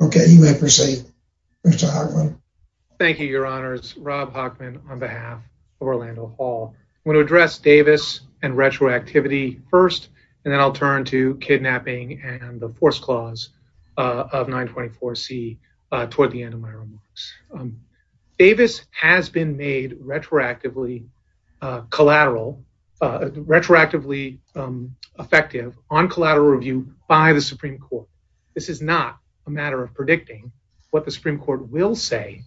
Okay, you may proceed, Mr. Hockman. Thank you, Your Honors. Rob Hockman on behalf of Orlando Hall. I'm going to address Davis and retroactivity first, and then I'll turn to kidnapping and the force clause of 924C toward the end of my remarks. Davis has been made retroactively collateral, retroactively effective on collateral review by the Supreme Court. This is not a matter of predicting what the Supreme Court will say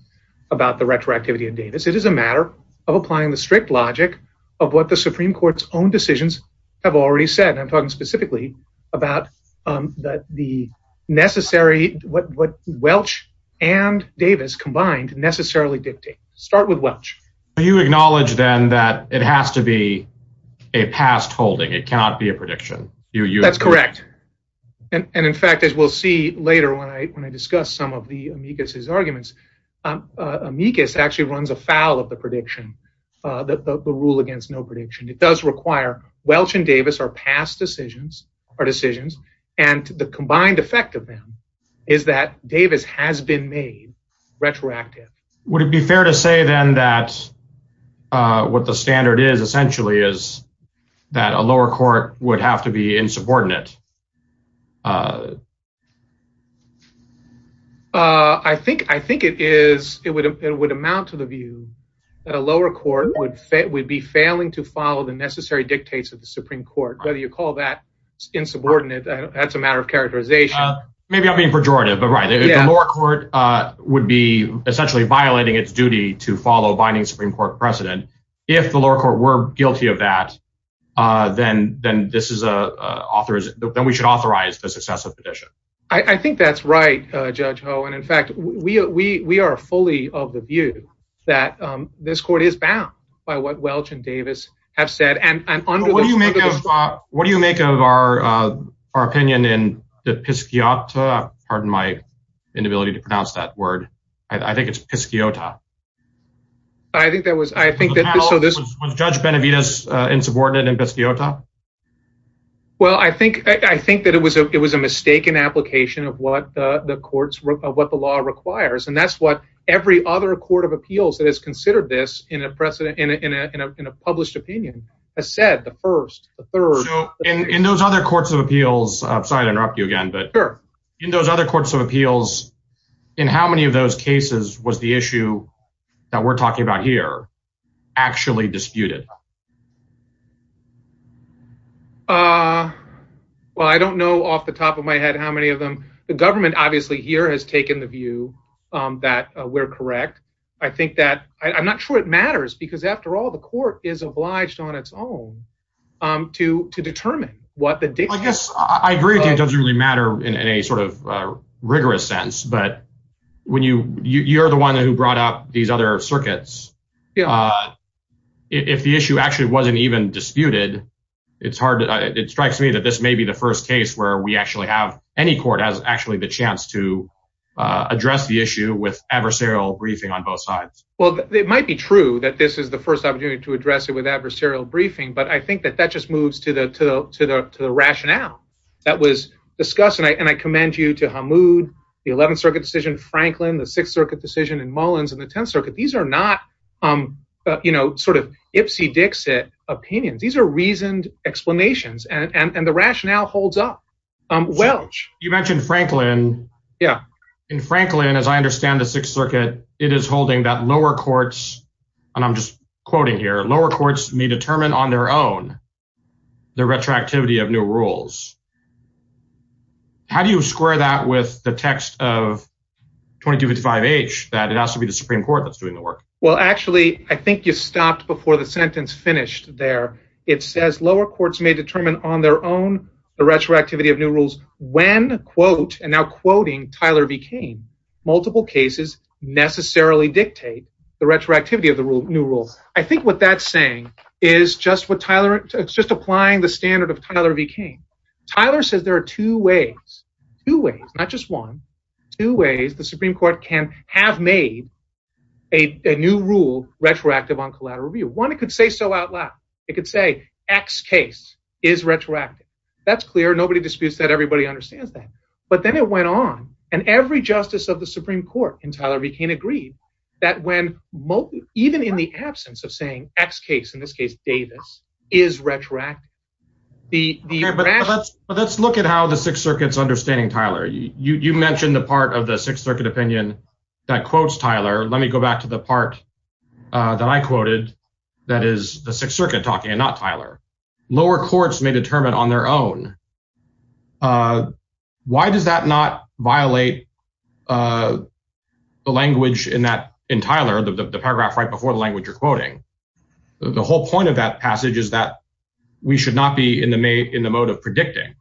about the retroactivity of Davis. It is a matter of applying the strict logic of what the Supreme Court's own decisions have already said. I'm talking specifically about the necessary, what Welch and Davis combined necessarily dictate. Start with Welch. You acknowledge then that it has to be a past holding. It cannot be a prediction. That's correct, and in fact, as we'll see later when I discuss some of the amicus's arguments, amicus actually runs afoul of the prediction, the rule against no prediction. It does require Welch and Davis are past decisions, and the combined effect of them is that Davis has been made retroactive. Would it be fair to say then that what the standard is essentially is that a lower court would have to be insubordinate? I think it is. It would amount to the view that a lower court would be failing to follow the necessary dictates of the Supreme Court, whether you call that insubordinate. That's a matter of characterization. Maybe I'm being pejorative, but right. The lower court would be essentially violating its duty to follow binding Supreme Court precedent. If the lower court were guilty of that, then we should authorize the successive petition. I think that's right, Judge Ho, and in fact, we are fully of the view that this court is bound by what Welch and Davis have said. What do you make of our opinion in Piscata? I think it's Piscata. Was Judge Benavides insubordinate in Piscata? Well, I think that it was a mistaken application of what the law requires, and that's what every other court of appeals that has considered this in a published opinion has said, the first, the third. In those other courts of appeals, I'm sorry to interrupt you again, but in those other courts of appeals, in how many of those cases was the issue that we're talking about here actually disputed? Well, I don't know off the top of my head how many of them. The government here has taken the view that we're correct. I'm not sure it matters, because after all, the court is obliged on its own to determine what the dictates. I agree that it doesn't really matter in a rigorous sense, but you're the one who brought up these other circuits. If the issue actually wasn't even disputed, it strikes me that this may be the first case where any court has actually the chance to address the issue with adversarial briefing on both sides. Well, it might be true that this is the first opportunity to address it with adversarial briefing, but I think that that just moves to the rationale that was discussed, and I commend you to Hamoud, the 11th Circuit decision in Franklin, the 6th Circuit decision in Mullins, and the 10th Circuit. These are not sort of ipsy-dixit opinions. These are reasoned explanations, and the rationale holds up. Welch? You mentioned Franklin. In Franklin, as I understand the 6th Circuit, it is holding that lower courts, and I'm just quoting here, lower courts may determine on their own the retroactivity of new rules. How do you square that with the text of 2255H that it has to be the Supreme Court that's doing the work? Well, actually, I think you stopped before the on their own the retroactivity of new rules when, quote, and now quoting Tyler V. Cain, multiple cases necessarily dictate the retroactivity of the new rules. I think what that's saying is just what Tyler, it's just applying the standard of Tyler V. Cain. Tyler says there are two ways, two ways, not just one, two ways the Supreme Court can have made a new rule retroactive on that. That's clear. Nobody disputes that. Everybody understands that, but then it went on, and every justice of the Supreme Court in Tyler V. Cain agreed that when even in the absence of saying X case, in this case Davis, is retroactive. Okay, but let's look at how the 6th Circuit's understanding Tyler. You mentioned the part of the 6th Circuit opinion that quotes Tyler. Let me go back to the part that I quoted that is the 6th Circuit talking and not Tyler. Lower courts may determine on their own. Why does that not violate the language in that, in Tyler, the paragraph right before the language you're quoting? The whole point of that passage is that we should not be in the mode of predicting.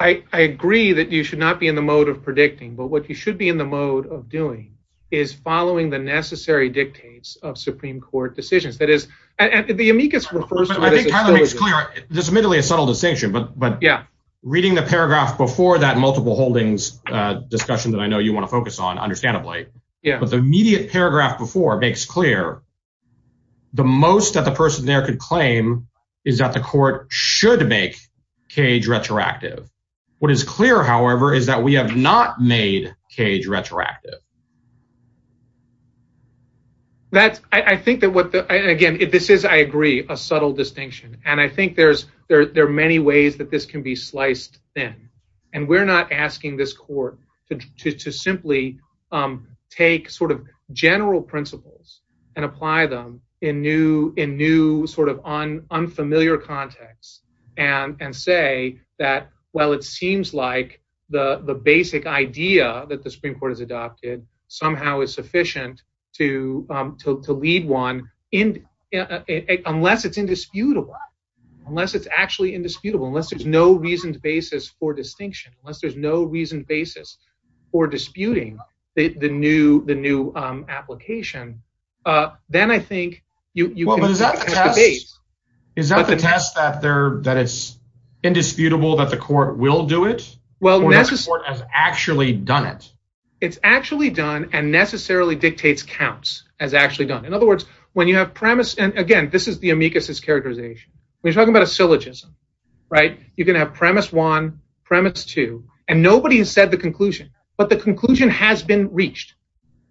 I agree that you should not be in the mode of predicting, but what you should be in the mode of doing is following the necessary dictates of Supreme Court decisions. That is, and the Tyler makes clear, there's admittedly a subtle distinction, but reading the paragraph before that multiple holdings discussion that I know you want to focus on, understandably, but the immediate paragraph before makes clear the most that the person there could claim is that the court should make Cage retroactive. What is clear, however, is that we have not made Cage retroactive. That's, I think that what the, again, if this is, I agree, a subtle distinction, and I think there's, there are many ways that this can be sliced thin, and we're not asking this court to simply take sort of general principles and apply them in new, in new sort of unfamiliar context and say that, well, it seems like the basic idea that the Supreme Court has somehow is sufficient to lead one in, unless it's indisputable, unless it's actually indisputable, unless there's no reasoned basis for distinction, unless there's no reasoned basis for disputing the new, the new application, then I think you. Is that the test that there, that it's indisputable that the court will do it? Well, the court has actually done it. It's actually done and necessarily dictates counts as actually done. In other words, when you have premise, and again, this is the amicus's characterization. We're talking about a syllogism, right? You can have premise one, premise two, and nobody has said the conclusion, but the conclusion has been reached,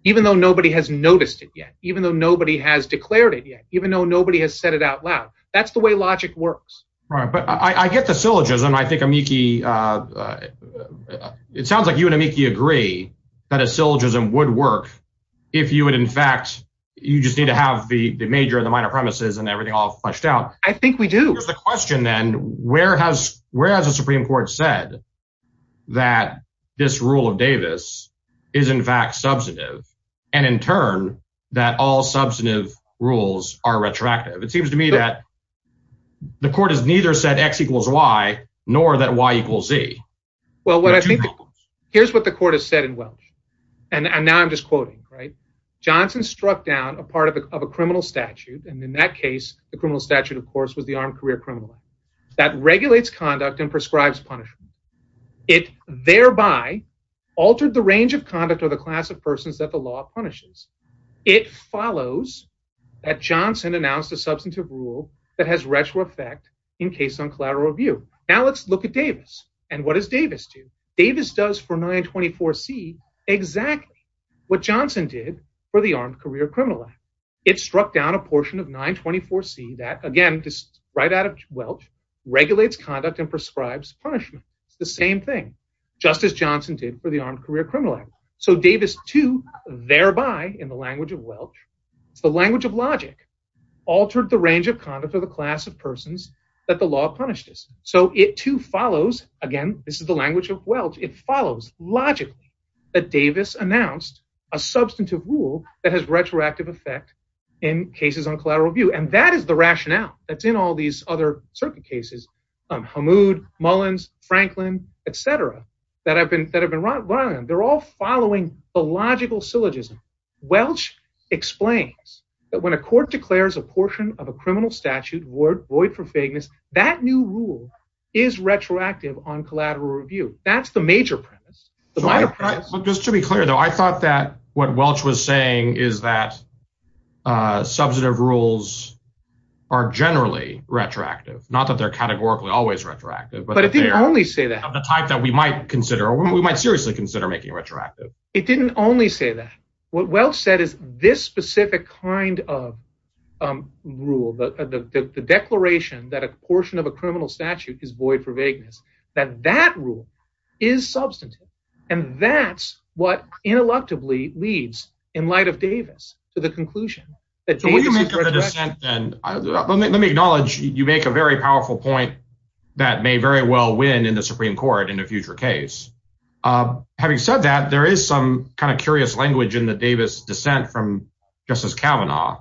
even though nobody has noticed it yet, even though nobody has declared it yet, even though nobody has said it out loud. That's the way logic works. But I get the syllogism. I think Amiki, it sounds like you and Amiki agree that a syllogism would work if you would, in fact, you just need to have the major and the minor premises and everything all fleshed out. I think we do. Here's the question then, where has the Supreme Court said that this rule of Davis is in fact substantive, and in turn, that all substantive rules are attractive? It seems to me that the court has neither said X equals Y, nor that Y equals Z. Well, here's what the court has said in Welch, and now I'm just quoting, right? Johnson struck down a part of a criminal statute, and in that case, the criminal statute, of course, was the Armed Career Criminal Act, that regulates conduct and prescribes punishment. It thereby altered the range of conduct of the class of persons that the law punishes. It follows that Johnson announced a substantive rule that has retro effect in case on collateral review. Now let's look at Davis, and what does Davis do? Davis does for 924C exactly what Johnson did for the Armed Career Criminal Act. It struck down a portion of 924C that, again, just right out of Welch, regulates conduct and prescribes punishment. It's the same thing, just as of Welch. It's the language of logic, altered the range of conduct of the class of persons that the law punished us. So it too follows, again, this is the language of Welch, it follows logically that Davis announced a substantive rule that has retroactive effect in cases on collateral review, and that is the rationale that's in all these other circuit cases, Hamoud, Mullins, Franklin, et cetera, that have been run. They're all following the logical syllogism. Welch explains that when a court declares a portion of a criminal statute void for vagueness, that new rule is retroactive on collateral review. That's the major premise, the minor premise. Just to be clear, though, I thought that what Welch was saying is that substantive rules are generally retroactive, not that they're categorically always retroactive. But it didn't only say that. The type that we might consider, we might seriously consider making retroactive. It didn't only say that. What Welch said is this specific kind of rule, the declaration that a portion of a criminal statute is void for vagueness, that that rule is substantive. And that's what intellectually leads in light of Davis to the conclusion that Davis is retroactive. Let me acknowledge, you make a very powerful point that may very well win in the Supreme Court in a future case. Having said that, there is some kind of curious language in the Davis dissent from Justice Kavanaugh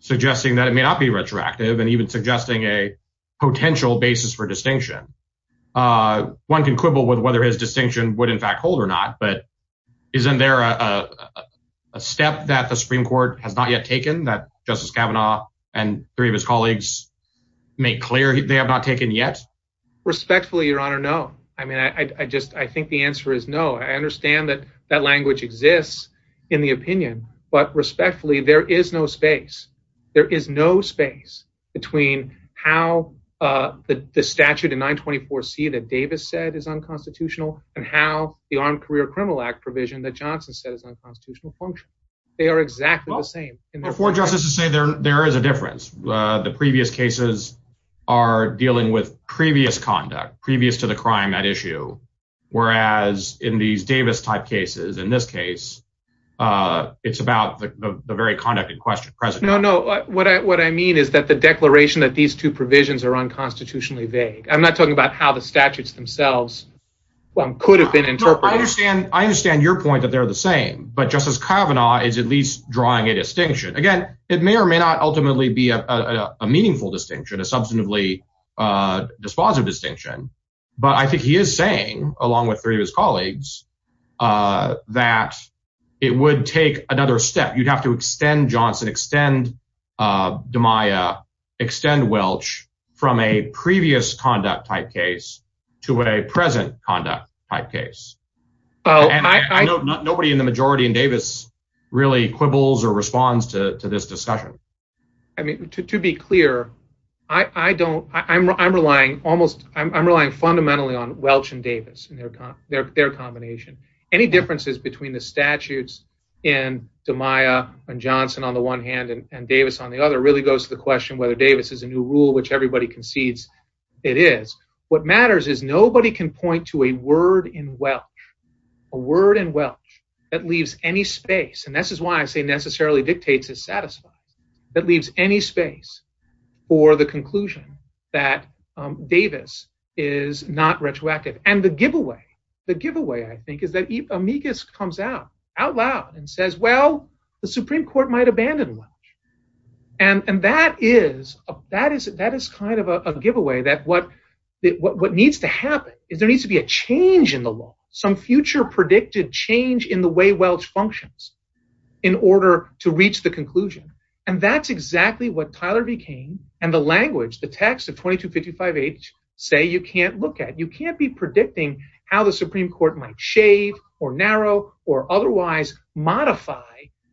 suggesting that it may not be retroactive and even suggesting a potential basis for distinction. One can quibble with whether his distinction would in fact hold or not, but isn't there a step that the Supreme Court has not yet taken that Justice Kavanaugh and three of his colleagues make clear they have not taken yet? Respectfully, Your Honor, no. I mean, I just, I think the answer is no. I understand that that language exists in the opinion, but respectfully, there is no space. There is no space between how the statute in 924C that Davis said is unconstitutional and how the Armed Career Criminal Act provision that Johnson said is unconstitutional function. They are exactly the same. There is a difference. The previous cases are dealing with previous conduct, previous to the crime at issue. Whereas in these Davis type cases, in this case, it's about the very conduct in question. No, no. What I mean is that the declaration that these two provisions are unconstitutionally vague. I'm not talking about how the statutes themselves could have been interpreted. I understand your point that they're the same, but Justice Kavanaugh is at least drawing a distinction. Again, it may or may not ultimately be a meaningful distinction, a substantively dispositive distinction. But I think he is saying, along with three of his colleagues, that it would take another step. You'd have to extend Johnson, extend DiMaia, extend Welch from a previous conduct type case to a present conduct type case. Oh, I know nobody in the majority in Davis really quibbles or responds to this discussion. I mean, to be clear, I don't, I'm relying almost, I'm relying fundamentally on Welch and Davis and their combination. Any differences between the statutes in DiMaia and Johnson on the one hand and Davis on the other really goes to the question whether Davis is a new rule, which everybody concedes it is. What matters is nobody can point to a word in Welch, a word in Welch that leaves any space, and this is why I say necessarily dictates is satisfied, that leaves any space for the conclusion that Davis is not retroactive. And the giveaway, the giveaway, I think, is that Amicus comes out, out loud and says, well, the Supreme Court might abandon Welch. And that is kind of a giveaway that what needs to happen is there needs to be a change in the law, some future predicted change in the way Welch functions in order to reach the conclusion. And that's exactly what Tyler McCain and the language, the text of 2255H say you can't look at. You can't be predicting how the Supreme Court might shave or narrow or otherwise modify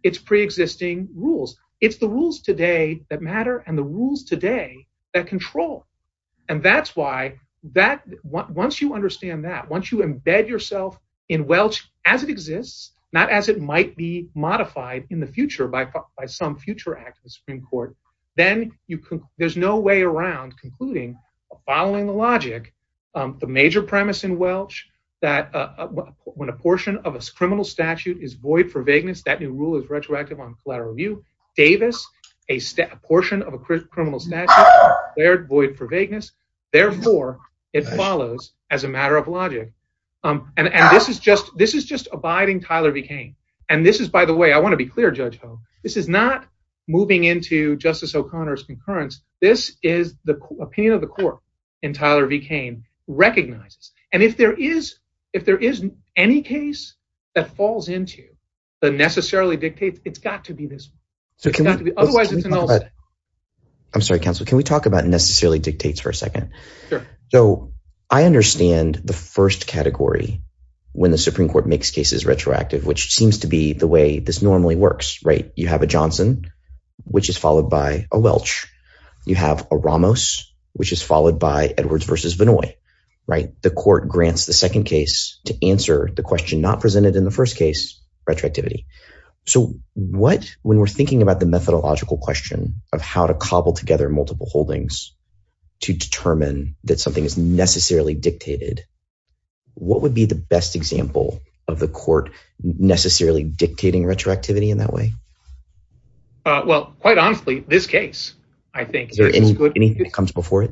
its preexisting rules. It's the rules today that matter and the rules today that control. And that's why that – once you understand that, once you embed yourself in Welch as it exists, not as it might be modified in the future by some future act of the Supreme Court, then you – there's no way around concluding, following the logic, the major premise in Welch that when a portion of a criminal statute is void for vagueness, that new rule is retroactive on flatter review. Davis, a portion of a criminal statute, they're void for vagueness. Therefore, it follows as a matter of logic. And this is just – this is just abiding Tyler McCain. And this is, by the way, I want to be clear, Judge Hogue, this is not moving into Justice O'Connor's concurrence. This is the opinion of the court and Tyler McCain recognizes. And if there is any case that falls into the necessarily dictates, it's got to be this one. It's got to be – otherwise, it's an all set. I'm sorry, counsel. Can we talk about necessarily dictates for a second? Sure. So I understand the first category when the Supreme Court makes cases retroactive, which seems to be the way this normally works, right? You have a Johnson, which is followed by a Welch. You have a Ramos, which is followed by Edwards versus Vinoy, right? The court grants the second case to answer the question not presented in the first case, retroactivity. So what – when we're thinking about the methodological question of how to cobble together multiple holdings to determine that something is necessarily dictated, what would be the best example of the court necessarily dictating retroactivity in that way? Well, quite honestly, this case, I think. Is there anything that comes before it?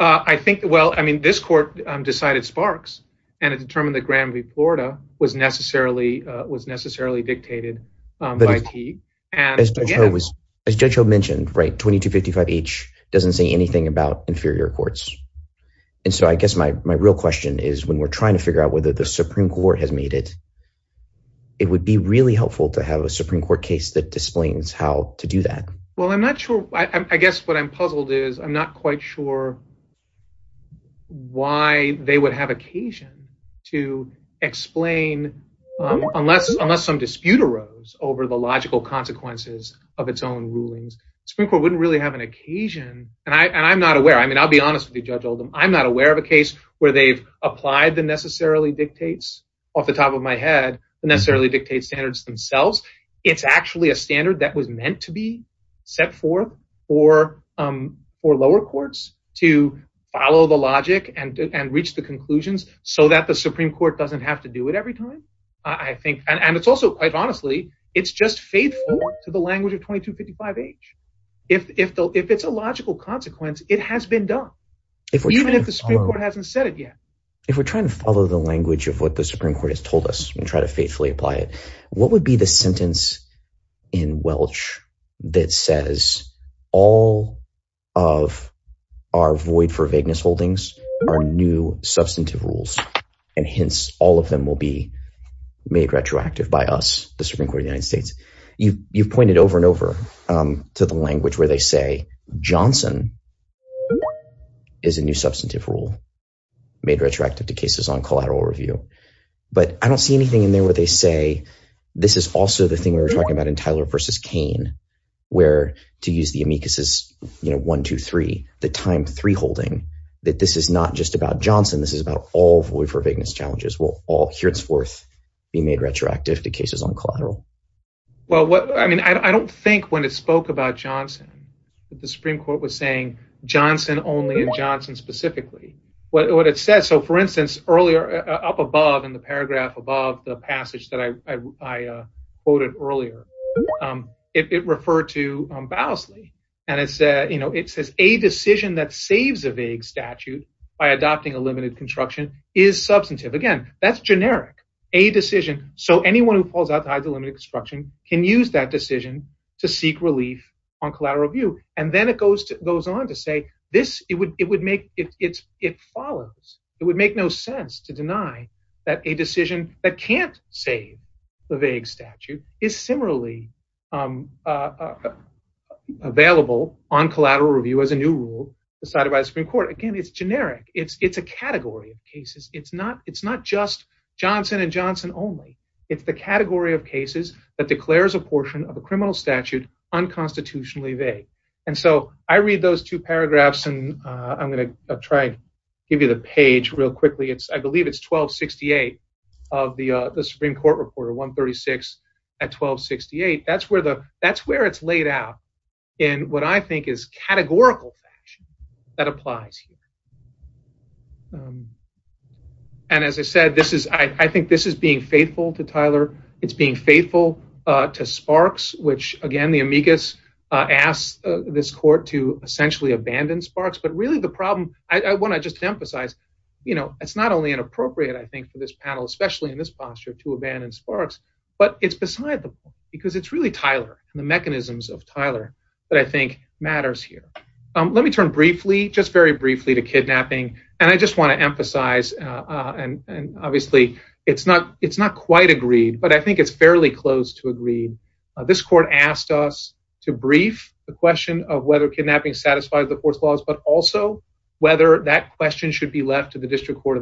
I think – well, I mean, this court decided Sparks and it determined that Granby, Florida was necessarily dictated by Teague. But as Judge Hogue mentioned, right, inferior courts. And so I guess my real question is when we're trying to figure out whether the Supreme Court has made it, it would be really helpful to have a Supreme Court case that explains how to do that. Well, I'm not sure. I guess what I'm puzzled is I'm not quite sure why they would have occasion to explain unless some dispute arose over the logical consequences of its own rulings. The Supreme Court wouldn't really have an occasion – and I'm not aware. I mean, I'll be honest with you, Judge Oldham. I'm not aware of a case where they've applied the necessarily dictates off the top of my head, the necessarily dictates standards themselves. It's actually a standard that was meant to be set forth for lower courts to follow the logic and reach the conclusions so that the Supreme Court doesn't have to do it every time, I think. And it's also, quite honestly, it's just faithful to the language of 2255H. If it's a logical consequence, it has been done, even if the Supreme Court hasn't said it yet. If we're trying to follow the language of what the Supreme Court has told us and try to faithfully apply it, what would be the sentence in Welch that says all of our void for vagueness holdings are new by us, the Supreme Court of the United States? You've pointed over and over to the language where they say Johnson is a new substantive rule made retroactive to cases on collateral review. But I don't see anything in there where they say, this is also the thing we were talking about in Tyler v. Cain, where to use the amicuses, you know, one, two, three, the time three holding, that this is not just about Johnson. This is about all void for vagueness challenges, will all heretofore be made retroactive to cases on collateral. Well, I mean, I don't think when it spoke about Johnson, that the Supreme Court was saying Johnson only and Johnson specifically, what it said. So for instance, earlier up above in the paragraph above the passage that I quoted earlier, it referred to Bowsley. And it says, you know, it says a decision that saves a vague statute by adopting a limited construction is substantive. Again, that's generic, a decision. So anyone who falls outside the limit of construction can use that decision to seek relief on collateral review. And then it goes to goes on to say, this, it would it would make it follows, it would make no sense to deny that a decision that can't save the vague statute is similarly available on collateral review as a new rule decided by the Supreme Court. Again, it's generic. It's it's a category of cases. It's not it's not just Johnson and Johnson only. It's the category of cases that declares a portion of a criminal statute unconstitutionally vague. And so I read those two paragraphs. And I'm going to try and give you the page real quickly. It's I believe it's 1268 of the Supreme Court Report of 136 at 1268. That's where the that's where it's laid out in what I think is categorical fact that applies here. And as I said, this is I think this is being faithful to Tyler. It's being faithful to Sparks, which again, the amicus asked this court to essentially abandon Sparks. But really the problem I want to just emphasize, you know, it's not only inappropriate, I think, for this panel, especially in this posture to abandon Sparks, but it's beside the point because it's really Tyler and the mechanisms of Tyler that I think matters here. Let me turn briefly, just very briefly to kidnapping. And I just want to emphasize and obviously it's not it's not quite agreed, but I think it's fairly close to agreed. This court asked us to brief the question of whether kidnapping satisfies the fourth clause, but also whether that question should be left to the district court.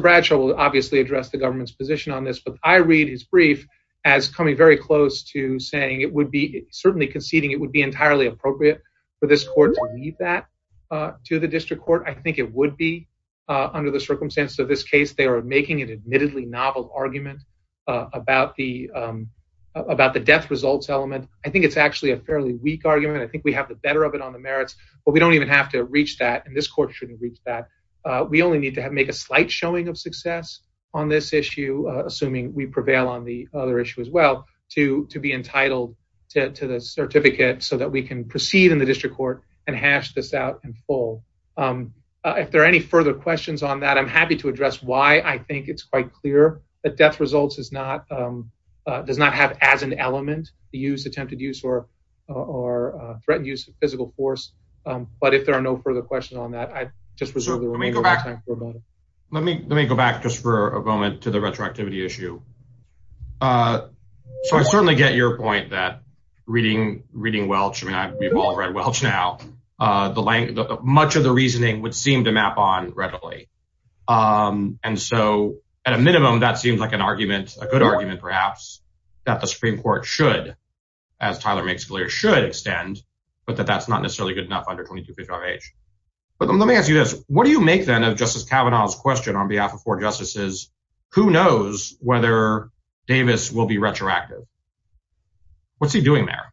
Bradshaw will obviously address the government's position on this, but I read his brief as coming very close to saying it would be certainly conceding it would be entirely appropriate for this court to leave that to the district court. I think it would be under the circumstances of this case. They are making an admittedly novel argument about the about the death results element. I think it's actually a fairly weak argument. I think we have the better of it on the merits, but we don't even have to reach that. And this court shouldn't reach that. We only need to make a slight showing of success on this issue, assuming we prevail on the other issue as well to to be entitled to the certificate so that we can proceed in the district court and hash this out in full. If there are any further questions on that, I'm happy to address why I think it's quite clear that death results is not does not have as an element to use attempted use or or threatened use of physical force. But if there are no further questions on that, I just reserve me go back. Let me let me go back just for a moment to the retroactivity issue. So I certainly get your point that reading, reading Welch, I mean, I've read Welch now, the length, much of the reasoning would seem to map on readily. And so at a minimum, that seems like an argument, a good argument, perhaps, that the Supreme Court should, as Tyler makes clear, should extend, but that that's not necessarily good enough under 25 age. But let me ask you this, what do you make then of Justice Kavanaugh's question on behalf of four justices? Who knows whether Davis will be retroactive? What's he doing there?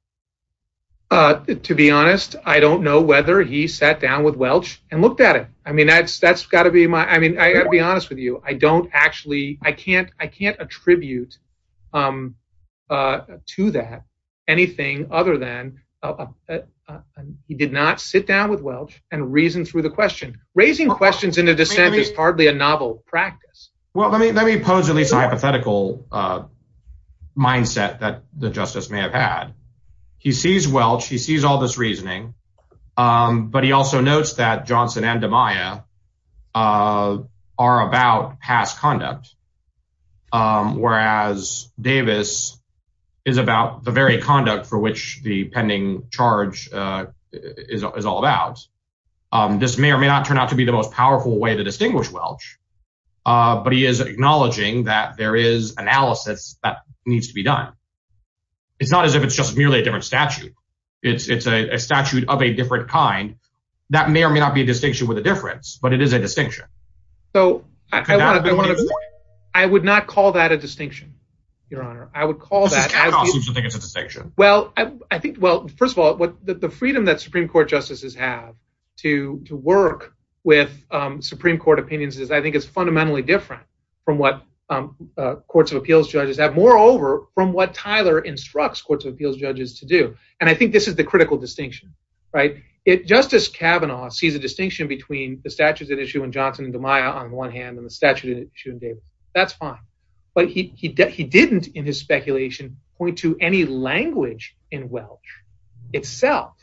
To be honest, I don't know whether he sat down with Welch and looked at it. I mean, that's that's got to be my I mean, I got to be honest with you. I don't actually I can't I can't attribute to that anything other than he did not sit down with Welch and reason through the question. Raising questions in a dissent is hardly a novel practice. Well, let me let me pose at least a hypothetical mindset that the justice may have had. He sees Welch, he sees all this reasoning. But he also notes that Johnson and Amaya are about past conduct. Whereas Davis is about the conduct for which the pending charge is all about. This may or may not turn out to be the most powerful way to distinguish Welch. But he is acknowledging that there is analysis that needs to be done. It's not as if it's just merely a different statute. It's a statute of a different kind. That may or may not be a distinction with a difference, but it is a distinction. So I would not call that a distinction. Your Honor, I would call that Well, I think, well, first of all, what the freedom that Supreme Court justices have to to work with Supreme Court opinions is I think it's fundamentally different from what courts of appeals judges have. Moreover, from what Tyler instructs courts of appeals judges to do. And I think this is the critical distinction, right? If Justice Kavanaugh sees a distinction between the statutes at issue and Johnson and Amaya on the one hand and the statute in issue that's fine. But he didn't in his speculation point to any language in Welch itself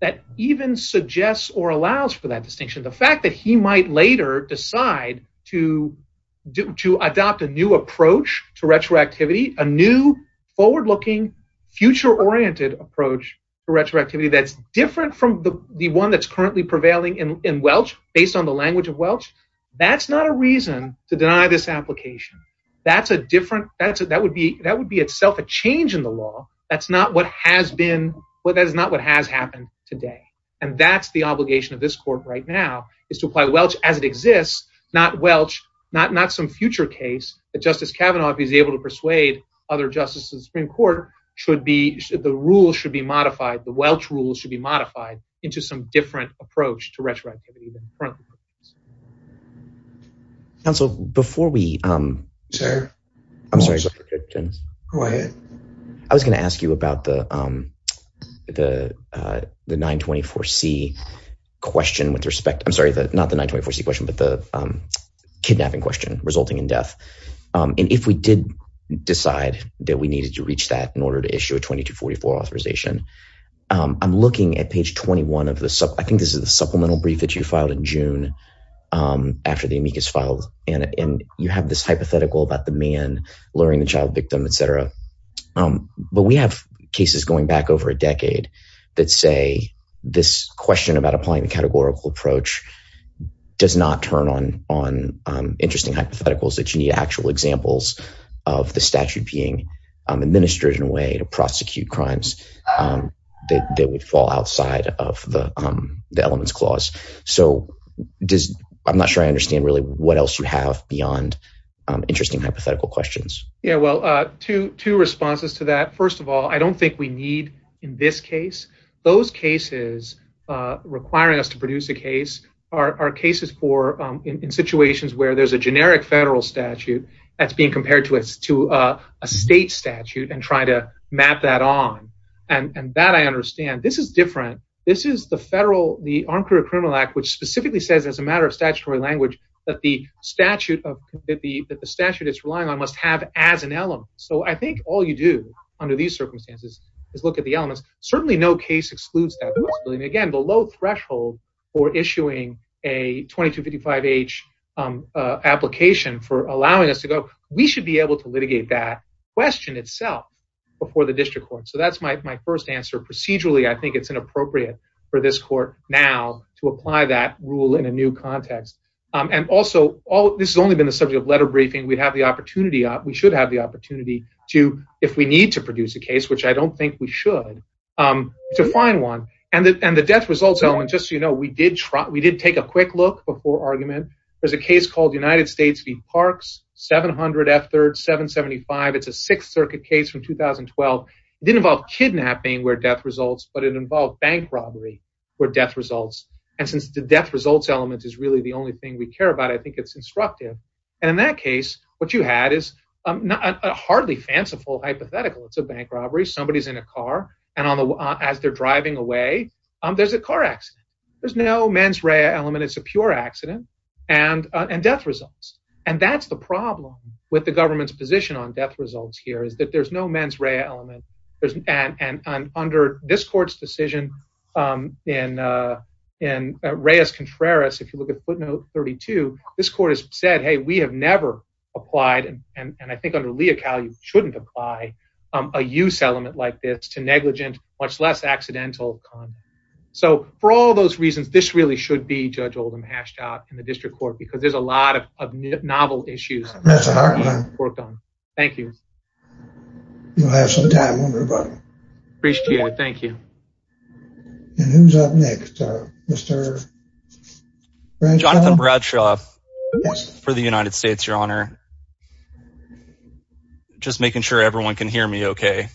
that even suggests or allows for that distinction. The fact that he might later decide to adopt a new approach to retroactivity, a new forward looking future oriented approach to retroactivity that's different from the one that's currently prevailing in Welch based on the language of Welch. That's not a reason to deny this application. That's a different, that would be that would be itself a change in the law. That's not what has happened today. And that's the obligation of this court right now is to apply Welch as it exists, not Welch, not some future case that Justice Kavanaugh is able to persuade other justices in the Supreme Court should be, the rules should be modified. The Welch rules should be modified into some different approach to retroactivity. Counsel, before we, I'm sorry, go ahead. I was going to ask you about the 924C question with respect, I'm sorry, not the 924C question, but the kidnapping question resulting in death. And if we did decide that we needed to reach that in order to issue a 2244 authorization, I'm looking at page 21 of the, I think this is the supplemental brief that you filed in June. After the amicus filed and you have this hypothetical about the man luring the child victim, et cetera. But we have cases going back over a decade that say this question about applying the categorical approach does not turn on interesting hypotheticals that you need actual examples of the statute being administered in a way to prosecute crimes that would fall outside of the elements clause. So I'm not sure I understand really what else you have beyond interesting hypothetical questions. Yeah, well, two responses to that. First of all, I don't think we need in this case, those cases requiring us to produce a case are cases for in situations where there's a generic federal statute that's being compared to a state statute and try to map that on. And that I understand, this is different. This is the federal, the Armed Career Criminal Act, which specifically says as a matter of statutory language that the statute that the statute is relying on must have as an element. So I think all you do under these circumstances is look at the elements. Certainly no case excludes that. And again, the low threshold for issuing a 2255H application for allowing us to go, we should be able to litigate that question itself before the district court. So that's my first answer. Procedurally, I think it's inappropriate for this court now to apply that rule in a new context. And also, this has only been the subject of letter briefing. We'd have the opportunity, we should have the opportunity to, if we need to produce a case, which I don't think we should, to find one. And the death results element, just so you know, we did take a quick look before argument. There's a case called United States v. Parks, 700 F3rd, 775. It's a Sixth Circuit case from 2012. It didn't involve kidnapping where death results, but it involved bank robbery where death results. And since the death results element is really the only thing we care about, I think it's instructive. And in that case, what you had is a hardly fanciful hypothetical. It's a bank robbery. Somebody's in a car. And as they're driving away, there's a car accident. There's no mens rea element. It's a pure accident and death results. And that's the problem with the government's position on death results here is that there's no mens rea element. And under this court's decision in reis contraris, if you look at footnote 32, this court has said, hey, we have never applied, and I think under lea cali shouldn't apply, a use element like this to negligent, much less accidental. So for all those reasons, this really should be Judge Oldham hashed out in the district court because there's a lot of novel issues. That's a hard one. Thank you. You'll have some time, won't you, buddy? Appreciate it. Thank you. And who's up next, Mr. Bradshaw? Jonathan Bradshaw for the United States, Your Honor. Just making sure everyone can hear me okay.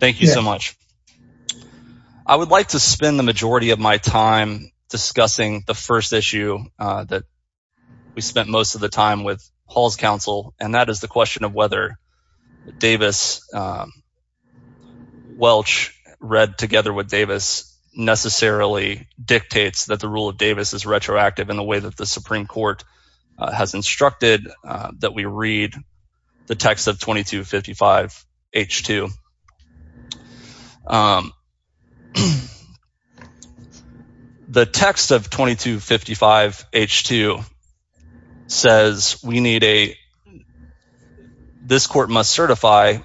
Thank you so much. I would like to spend the majority of my time discussing the first issue that we spent most of the time with Hall's counsel, and that is the question of whether Davis-Welch read together with Davis necessarily dictates that the rule of Davis is retroactive in the way that the Supreme Court has instructed that we read the text of 2255-H2. The text of 2255-H2 says we need a, this court must certify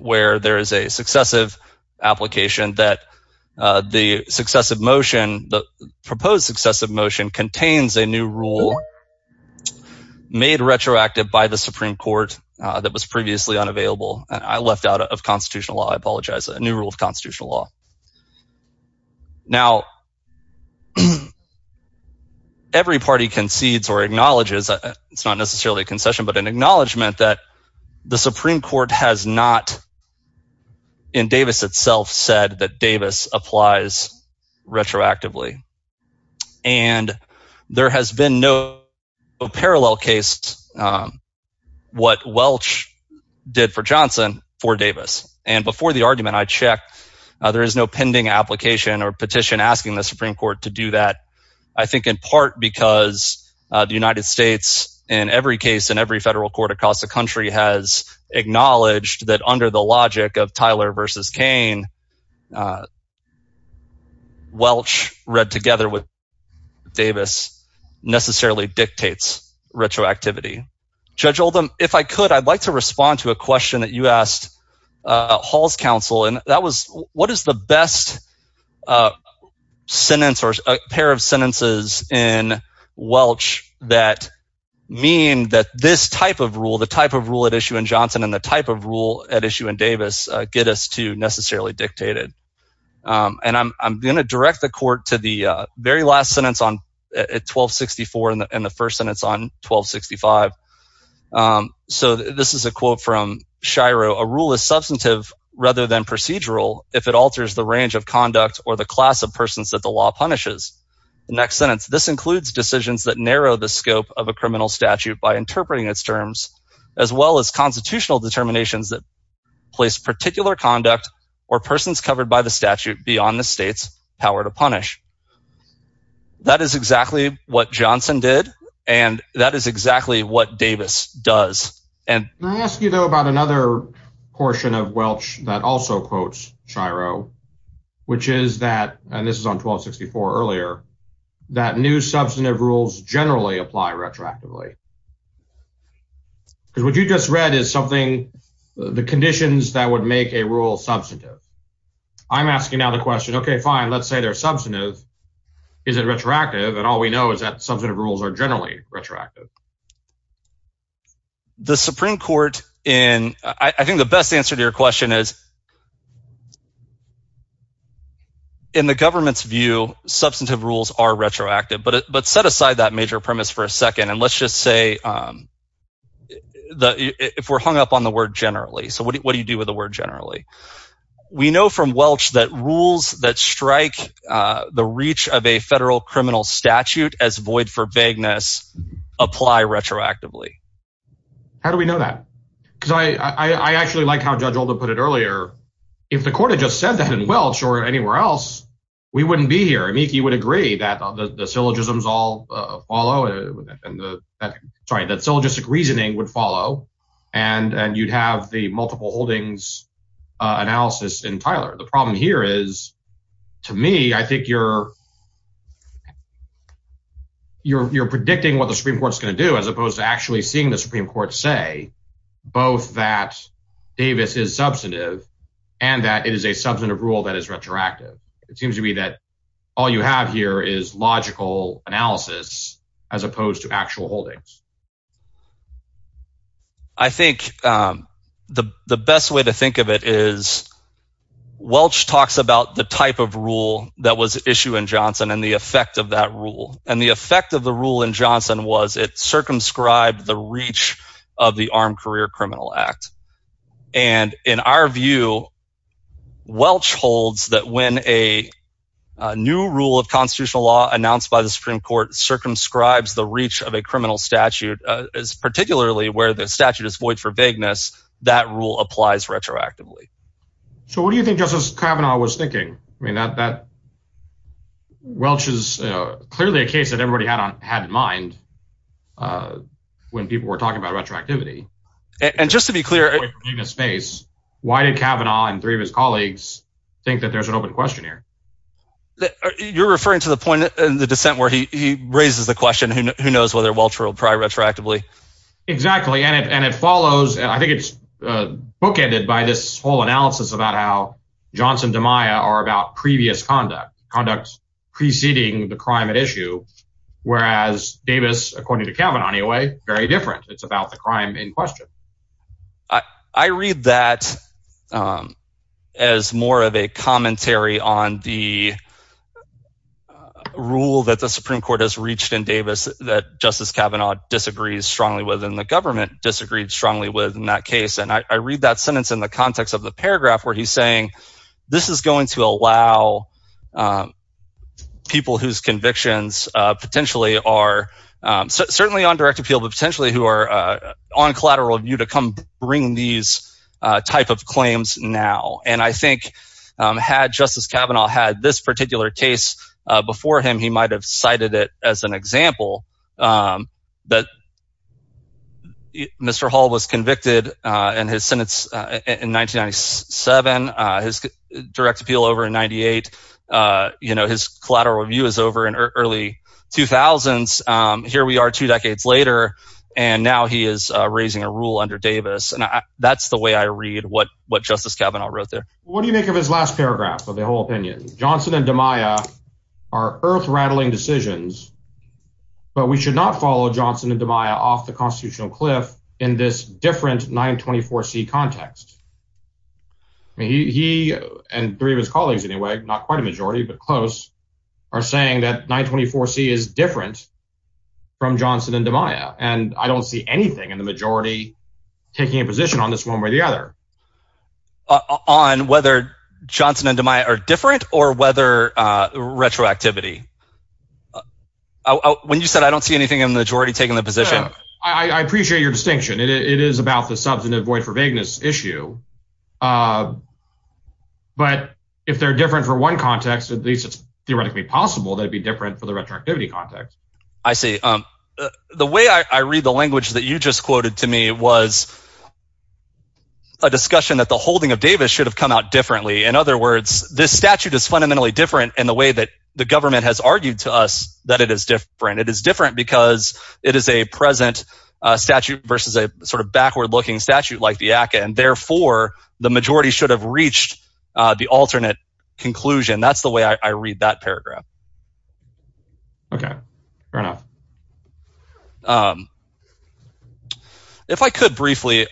where there is a successive application that the successive motion, the proposed successive motion contains a new rule made retroactive by the Supreme Court that was previously unavailable. I left out of constitutional law. I apologize. A new rule of constitutional law. Now, every party concedes or acknowledges, it's not necessarily a concession, but an acknowledgement that the Supreme Court has not, in Davis itself, said that Davis applies retroactively. And there has been no parallel case, what Welch did for Johnson for Davis. And before the argument, I checked, there is no pending application or petition asking the Supreme Court to do that. I think in part, because the United States in every case, in every federal court across the together with Davis necessarily dictates retroactivity. Judge Oldham, if I could, I'd like to respond to a question that you asked Hall's counsel. And that was, what is the best sentence or a pair of sentences in Welch that mean that this type of rule, the type of rule at issue in Johnson and the type of rule at issue in Davis get us to necessarily dictate it? And I'm going to direct the court to the very last sentence on 1264 and the first sentence on 1265. So this is a quote from Shiro. A rule is substantive rather than procedural. If it alters the range of conduct or the class of persons that the law punishes. The next sentence, this includes decisions that narrow the scope of a criminal statute by interpreting its terms, as well as constitutional determinations that place particular conduct or persons covered by the statute beyond the state's power to punish. That is exactly what Johnson did. And that is exactly what Davis does. And I ask you, though, about another portion of Welch that also quotes Shiro, which is that, and this is on 1264 earlier, that new substantive rules generally apply retroactively. Because what you just read is something, the conditions that would make a rule substantive. I'm asking now the question, OK, fine, let's say they're substantive. Is it retroactive? And all we know is that substantive rules are generally retroactive. The Supreme Court in, I think the best answer to your question is, in the government's view, substantive rules are retroactive, but set aside that major premise for a second. And let's just say if we're hung up on the word generally. So what do you do with the word generally? We know from Welch that rules that strike the reach of a federal criminal statute as void for vagueness apply retroactively. How do we know that? Because I actually like how Judge Oldham put it earlier. If the court had just said that in Welch or anywhere else, we wouldn't be here. I mean, he would agree that the syllogisms all follow. Sorry, that syllogistic reasoning would follow. And you'd have the multiple holdings analysis in Tyler. The problem here is, to me, I think you're predicting what the Supreme Court's going to do as opposed to actually seeing the Supreme Court say both that Davis is substantive and that it is a substantive rule that is retroactive. It seems to me that all you have here is logical analysis as opposed to actual holdings. I think the best way to think of it is, Welch talks about the type of rule that was issue in Johnson and the effect of that rule. And the effect of the rule in Johnson was it circumscribed the of the Armed Career Criminal Act. And in our view, Welch holds that when a new rule of constitutional law announced by the Supreme Court circumscribes the reach of a criminal statute, particularly where the statute is void for vagueness, that rule applies retroactively. So what do you think Justice Kavanaugh was thinking? That Welch is clearly a case that everybody had had in mind when people were talking about retroactivity. And just to be clear, in a space, why did Kavanaugh and three of his colleagues think that there's an open question here? You're referring to the point in the dissent where he raises the question, who knows whether Welch will pry retroactively? Exactly. And it follows, I think it's bookended by this whole analysis about how Johnson to Maya are about previous conduct, conducts preceding the crime at issue. Whereas Davis, according to Kavanaugh, anyway, very different. It's about the crime in question. I read that as more of a commentary on the rule that the Supreme Court has reached in Davis that Justice Kavanaugh disagrees strongly with and the government disagreed strongly with in that case. And I read that sentence in the context of the paragraph where he's saying, this is going to allow people whose convictions potentially are certainly on direct appeal, but potentially who are on collateral view to come bring these type of claims now. And I think had Justice Kavanaugh had this particular case before him, he might have cited it as an example that Mr. Hall was convicted in his sentence in 1997. His direct appeal over in 98, his collateral review is over in early 2000s. Here we are two decades later, and now he is raising a rule under Davis. And that's the way I read what Justice Kavanaugh wrote there. What do you make of his last paragraph of the whole opinion? Johnson and Demeyer are different or whether retroactivity? When you said, I don't see anything in the majority taking the position. I appreciate your distinction. It is about the substantive void for vagueness issue. But if they're different for one context, at least it's theoretically possible that it'd be different for the retroactivity context. I see. The way I read the language that you just quoted to me was a discussion that the holding of Davis should have come out differently. In other words, this statute is fundamentally different in the way that the government has argued to us that it is different. It is different because it is a present statute versus a sort of backward looking statute like the ACA. And therefore the majority should have reached the alternate conclusion. That's the way I read that paragraph. Okay. If I could briefly,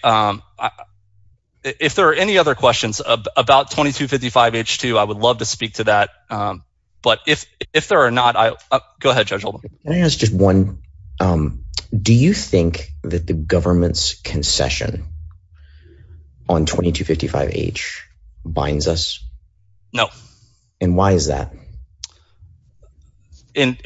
if there are any other questions about 2255H2, I would love to speak to that. But if there are not, go ahead, Judge Holden. Can I ask just one, do you think that the government's concession on 2255H binds us? No. And why is that? In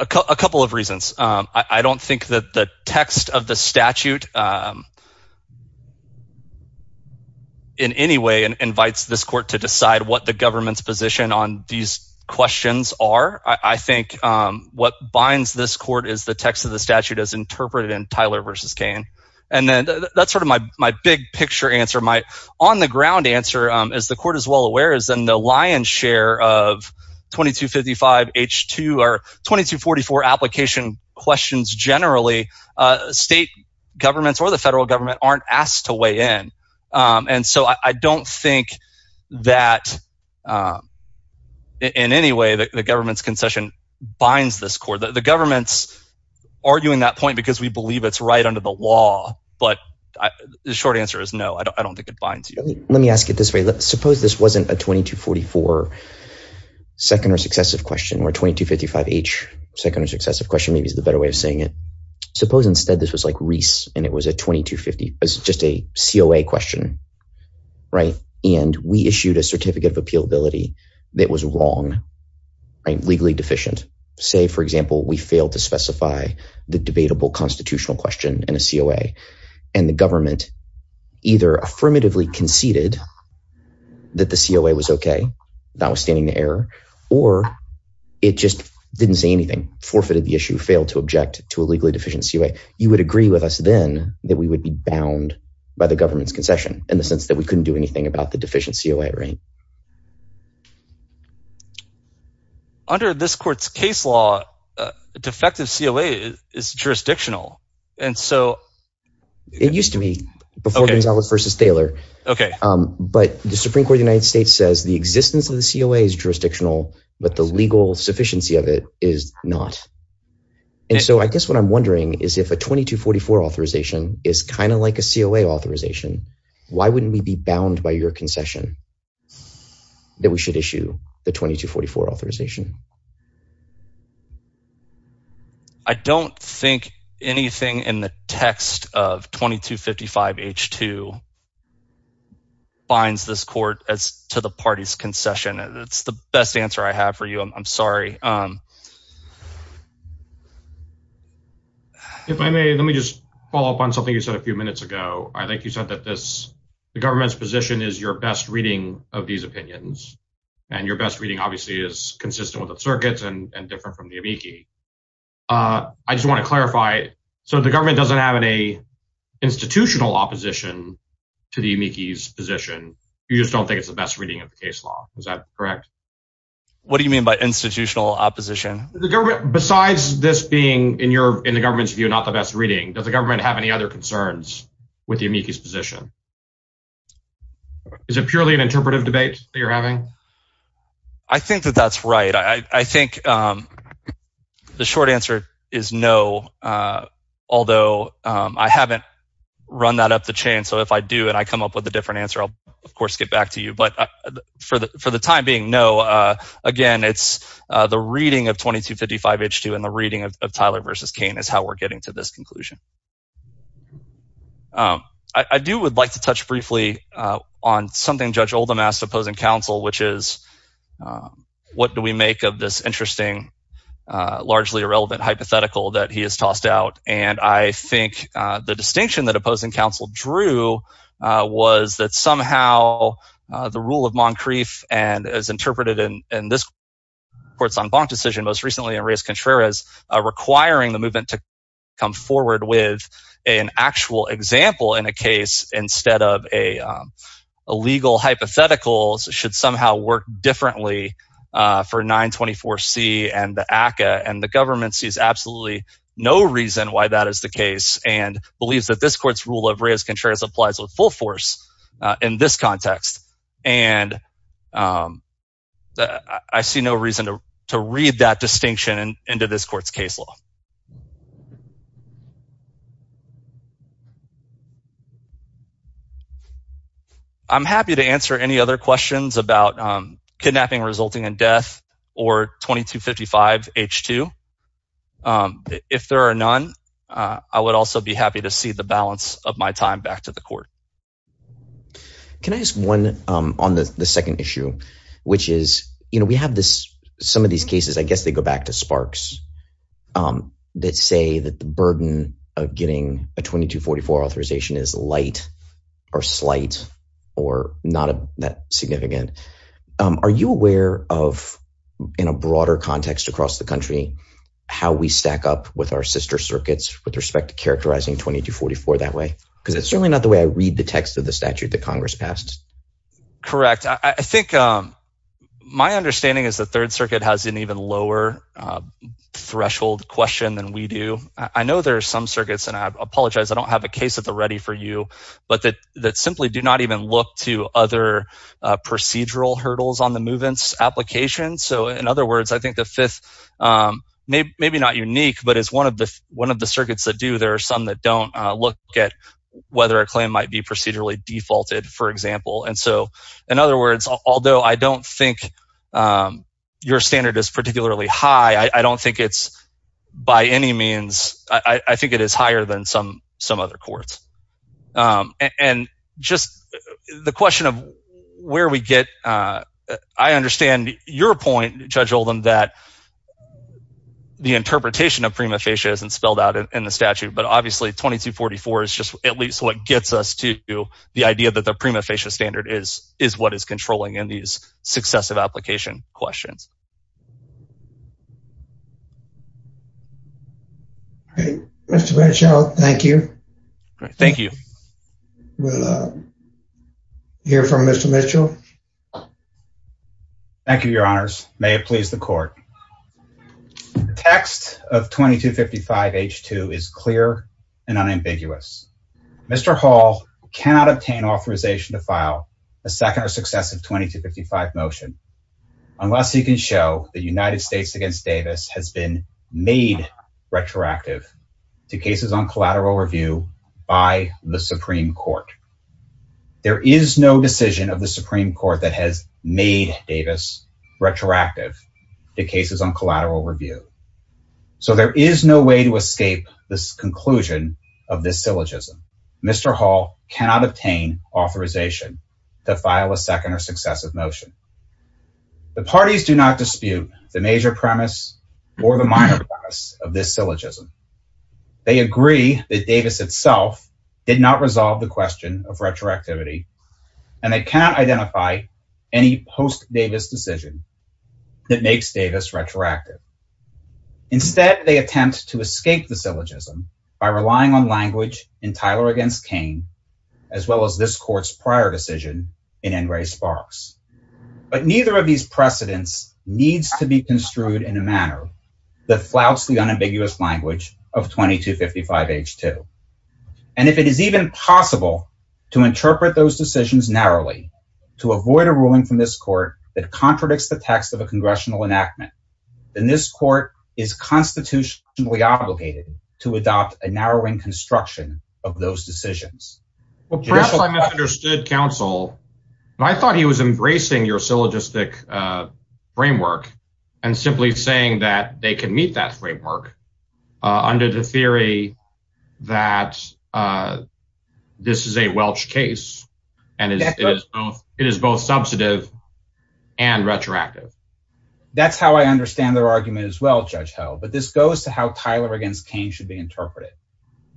a couple of reasons. I don't think that the text of the statute in any way invites this court to decide what the government's position on these questions are. I think what binds this court is the text of the statute as interpreted in Tyler versus Kane. And then that's sort of my big picture answer. My on the ground answer, as the court is well aware, is in the lion's share of 2255H2 or 2244 application questions generally, state governments or the federal government aren't asked to weigh in. And so I don't think that in any way the government's concession binds this court. The government's arguing that point because we believe it's right under the law. But the short answer is no, I don't think it binds you. Let me ask it this way. Suppose this wasn't a 2244 second or successive question or 2255H second or successive question, maybe is the better way of saying it. Suppose instead this was like a 2250, just a COA question, right? And we issued a certificate of appealability that was wrong, right? Legally deficient. Say, for example, we failed to specify the debatable constitutional question in a COA and the government either affirmatively conceded that the COA was okay, notwithstanding the error, or it just didn't say anything, forfeited the issue, failed to object to a legally deficient COA. You would agree with us then that we would be bound by the government's concession in the sense that we couldn't do anything about the deficient COA, right? Under this court's case law, a defective COA is jurisdictional. And so... It used to be before Gonzalez versus Thaler. Okay. But the Supreme Court of the United States says the existence of the COA is jurisdictional, but the legal sufficiency of it is not. And so I guess what I'm wondering is if a 2244 authorization is kind of like a COA authorization, why wouldn't we be bound by your concession that we should issue the 2244 authorization? I don't think anything in the text of 2255 H2 binds this court as to the party's concession. It's the best answer I have for you. I'm sorry. If I may, let me just follow up on something you said a few minutes ago. I think you said that the government's position is your best reading of these opinions. And your best reading obviously is consistent with the circuits and different from the amici. I just want to clarify, so the government doesn't have any institutional opposition to the amici's position. You just don't think it's the best reading of the case law. Is that correct? What do you mean by institutional opposition? Besides this being, in the government's view, not the best reading, does the government have any other concerns with the amici's position? Is it purely an interpretive debate that you're having? I think that that's right. I think the short answer is no, although I haven't run that up the chain. So if I do and I come up with a different answer, I'll of course get back to you. But for the time being, no. Again, it's the reading of 2255H2 and the reading of Tyler versus Kane is how we're getting to this conclusion. I do would like to touch briefly on something Judge Oldham asked opposing counsel, which is what do we make of this interesting, largely irrelevant hypothetical that he has tossed out? And I think the distinction that opposing counsel drew was that somehow the rule of this court's en banc decision most recently in Reyes-Contreras requiring the movement to come forward with an actual example in a case instead of a legal hypothetical should somehow work differently for 924C and the ACCA. And the government sees absolutely no reason why that is the case and believes that this court's rule of Reyes-Contreras applies with full force in this context. And I see no reason to read that distinction into this court's case law. I'm happy to answer any other questions about kidnapping resulting in death or 2255H2. If there are none, I would also be happy to see the balance of my time back to the court. Can I ask one on the second issue, which is, you know, we have some of these cases, I guess they go back to Sparks, that say that the burden of getting a 2244 authorization is light or slight or not that significant. Are you aware of, in a broader context across the country, how we stack up with our sister circuits with respect to characterizing 2244 that way? Because it's certainly not the way I read the text of the statute that Congress passed. Correct. I think my understanding is the Third Circuit has an even lower threshold question than we do. I know there are some circuits, and I apologize, I don't have a case at the ready for you, but that simply do not even look to other procedural hurdles on the movements application. So in other words, I think the Fifth, maybe not unique, but as one of the whether a claim might be procedurally defaulted, for example. And so in other words, although I don't think your standard is particularly high, I don't think it's by any means, I think it is higher than some other courts. And just the question of where we get, I understand your point, Judge Oldham, that the interpretation of prima facie isn't spelled out in the statute, but obviously 2244 is just at least what gets us to the idea that the prima facie standard is what is controlling in these successive application questions. All right, Mr. Mitchell, thank you. Thank you. We'll hear from Mr. Mitchell. Thank you, Your Honors. May it please the court. Text of 2255 H2 is clear and unambiguous. Mr. Hall cannot obtain authorization to file a second or successive 2255 motion unless he can show the United States against Davis has been made retroactive to cases on collateral review by the Supreme Court. There is no decision of Supreme Court that has made Davis retroactive to cases on collateral review. So there is no way to escape this conclusion of this syllogism. Mr. Hall cannot obtain authorization to file a second or successive motion. The parties do not dispute the major premise or the minor premise of this syllogism. They agree that Davis itself did not resolve the question of retroactivity and they cannot identify any post-Davis decision that makes Davis retroactive. Instead, they attempt to escape the syllogism by relying on language in Tyler against Kane, as well as this court's prior decision in N. Ray Sparks. But neither of these precedents needs to be construed in a manner that flouts the unambiguous language of 2255 H2. And if it is even possible to interpret those decisions narrowly to avoid a ruling from this court that contradicts the text of a congressional enactment, then this court is constitutionally obligated to adopt a narrowing construction of those decisions. Well, perhaps I misunderstood counsel, but I thought he was embracing your syllogistic framework and simply saying that they can meet that framework under the theory that this is a Welch case and it is both substantive and retroactive. That's how I understand their argument as well, Judge Held, but this goes to how Tyler against Kane should be interpreted.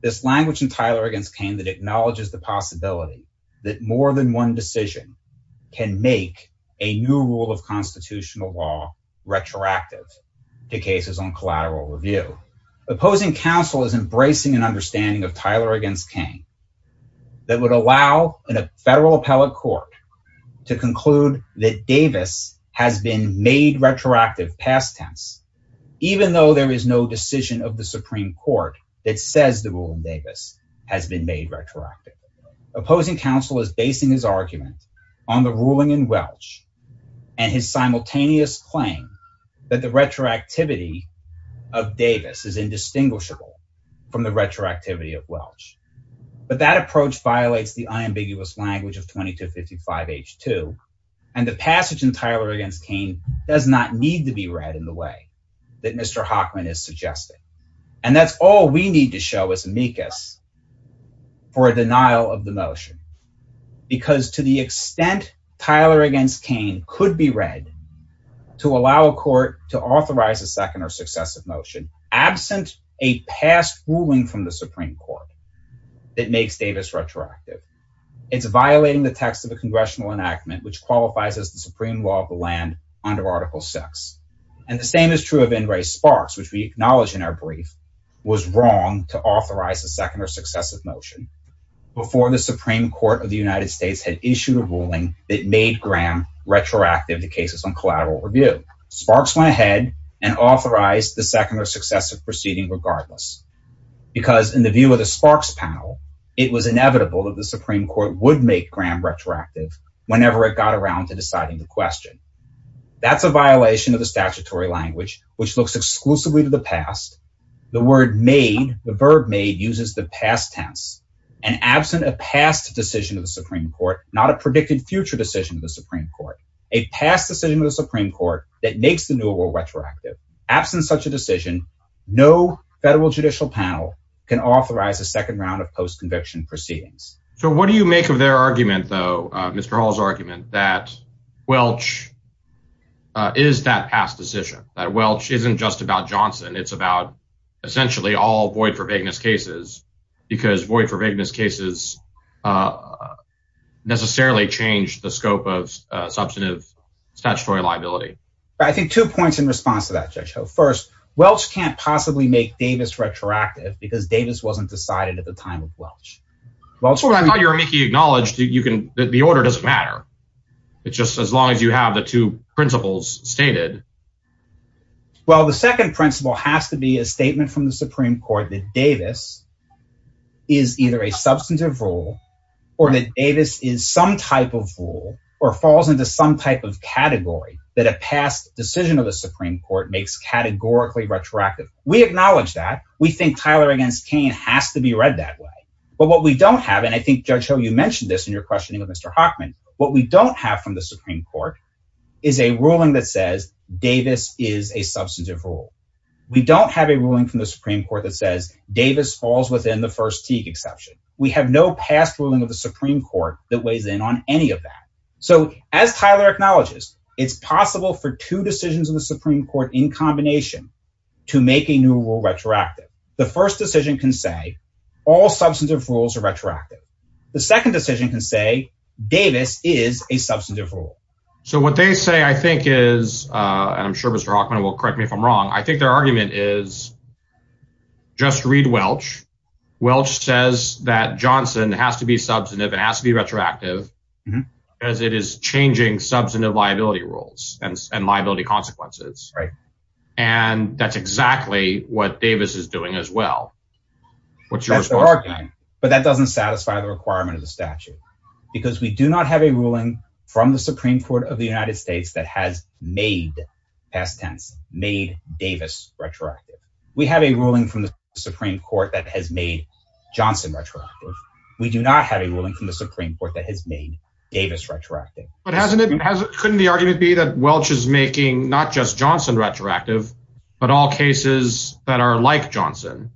This language in Tyler against Kane that acknowledges the possibility that more than one decision can make a new rule of constitutional law retroactive to cases on collateral review. Opposing counsel is embracing an understanding of Tyler against Kane that would allow in a federal appellate court to conclude that Davis has been made retroactive past tense, even though there is no decision of the Supreme Court that says the ruling Davis has been made retroactive. Opposing counsel is basing his claim that the retroactivity of Davis is indistinguishable from the retroactivity of Welch, but that approach violates the unambiguous language of 2255H2, and the passage in Tyler against Kane does not need to be read in the way that Mr. Hockman is suggesting, and that's all we need to show as amicus for a denial of the motion, because to the extent Tyler against Kane could be to allow a court to authorize a second or successive motion absent a past ruling from the Supreme Court that makes Davis retroactive, it's violating the text of a congressional enactment which qualifies as the supreme law of the land under article six, and the same is true of Ingray Sparks, which we acknowledge in our brief was wrong to authorize a second or successive motion before the Supreme Court of the United States had issued a ruling that made Graham retroactive in the case of collateral review. Sparks went ahead and authorized the second or successive proceeding regardless, because in the view of the Sparks panel, it was inevitable that the Supreme Court would make Graham retroactive whenever it got around to deciding the question. That's a violation of the statutory language, which looks exclusively to the past. The word made, the verb made uses the past tense, and absent a past decision of the Supreme Court, not a predicted future decision of the Supreme Court, a past decision of the Supreme Court that makes the new world retroactive, absent such a decision, no federal judicial panel can authorize a second round of post conviction proceedings. So what do you make of their argument, though, Mr. Hall's argument that Welch is that past decision that Welch isn't just about Johnson, it's about essentially all void for vagueness cases, because void for vagueness cases necessarily changed the scope of substantive statutory liability. I think two points in response to that, Judge Ho. First, Welch can't possibly make Davis retroactive because Davis wasn't decided at the time of Welch. Well, I thought you were making acknowledged you can, the order doesn't matter. It's just as long as you have the two principles stated. Well, the second principle has to be a statement from the Supreme Court that Davis is either a substantive rule, or that Davis is some type of rule, or falls into some type of category that a past decision of the Supreme Court makes categorically retroactive. We acknowledge that we think Tyler against Kane has to be read that way. But what we don't have, and I think Judge Ho, you mentioned this in your questioning of Mr. Hockman, what we don't have from the Supreme Court is a ruling that says Davis is a substantive rule. We don't have a ruling from the Supreme Court that says Davis falls within the first teak exception. We have no past ruling of the Supreme Court that weighs in on any of that. So as Tyler acknowledges, it's possible for two decisions in the Supreme Court in combination to make a new rule retroactive. The first decision can say all substantive rules are retroactive. The second decision can say Davis is a substantive rule. So what they say, I think is, and I'm sure Mr. Hockman will correct me if I'm wrong, I think their argument is, just read Welch. Welch says that Johnson has to be substantive and has to be retroactive, as it is changing substantive liability rules and liability consequences, right? And that's exactly what Davis is doing as well. What's yours? But that doesn't satisfy the requirement of the statute, because we do not have a ruling from the Supreme Court of the United States that has made, past tense, made Davis retroactive. We have a ruling from the Supreme Court that has made Johnson retroactive. We do not have a ruling from the Supreme Court that has made Davis retroactive. But hasn't it, couldn't the argument be that Welch is making not just Johnson retroactive, but all cases that are like Johnson?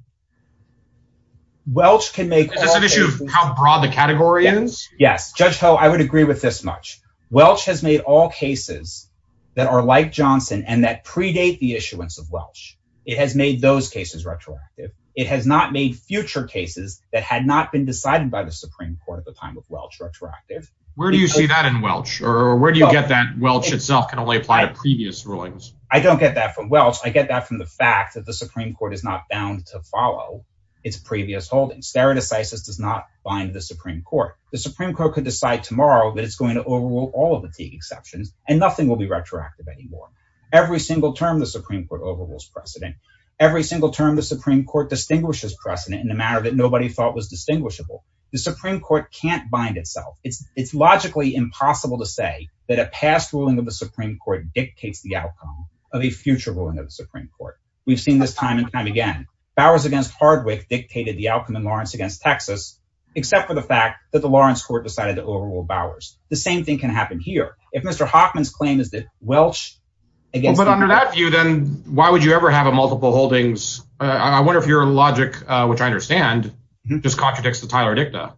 Welch can make... Is this an issue of how broad the category is? Yes. Judge Ho, I would agree with this much. Welch has made all cases that are like Johnson and that predate the issuance of Welch. It has made those cases retroactive. It has not made future cases that had not been decided by the Supreme Court at the time of Welch retroactive. Where do you see that in Welch? Or where do you get that Welch itself can only apply to previous rulings? I don't get that from Welch. I get that from the fact that the Supreme Court is not bound to follow its previous holdings. Stereo Decisis does not bind the Supreme Court. The Supreme Court could decide tomorrow that it's going to overrule all of the Teague exceptions and nothing will be retroactive anymore. Every single term the Supreme Court overrules precedent. Every single term the Supreme Court distinguishes precedent in a manner that nobody thought was distinguishable. The Supreme Court can't bind itself. It's logically impossible to say that a past ruling of the Supreme Court dictates the outcome of a future ruling of the Supreme Court. We've seen this time and time again. Bowers against Hardwick dictated the outcome in Lawrence against Texas, except for the fact that the Lawrence court decided to overrule Bowers. The same thing can happen here. If Mr. Hoffman's claim is that Welch... But under that view, then why would you ever have a multiple holdings? I wonder if your logic, which I understand, just contradicts the Tyler Dicta.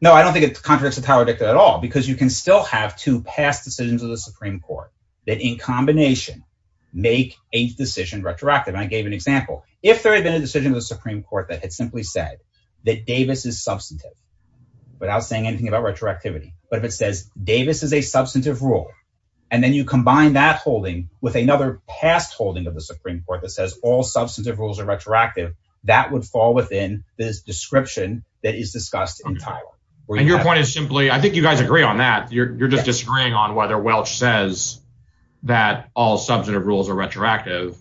No, I don't think it contradicts the Tyler Dicta at all, because you can still have two past decisions of the Supreme Court that in combination make a decision retroactive. I gave an example. If there had been a decision of the Supreme Court that had simply said that Davis is substantive without saying anything about retroactivity, but if it says Davis is a substantive rule, and then you combine that holding with another past holding of the Supreme Court that says all substantive rules are retroactive, that would fall within this description that is discussed in that. You're just disagreeing on whether Welch says that all substantive rules are retroactive.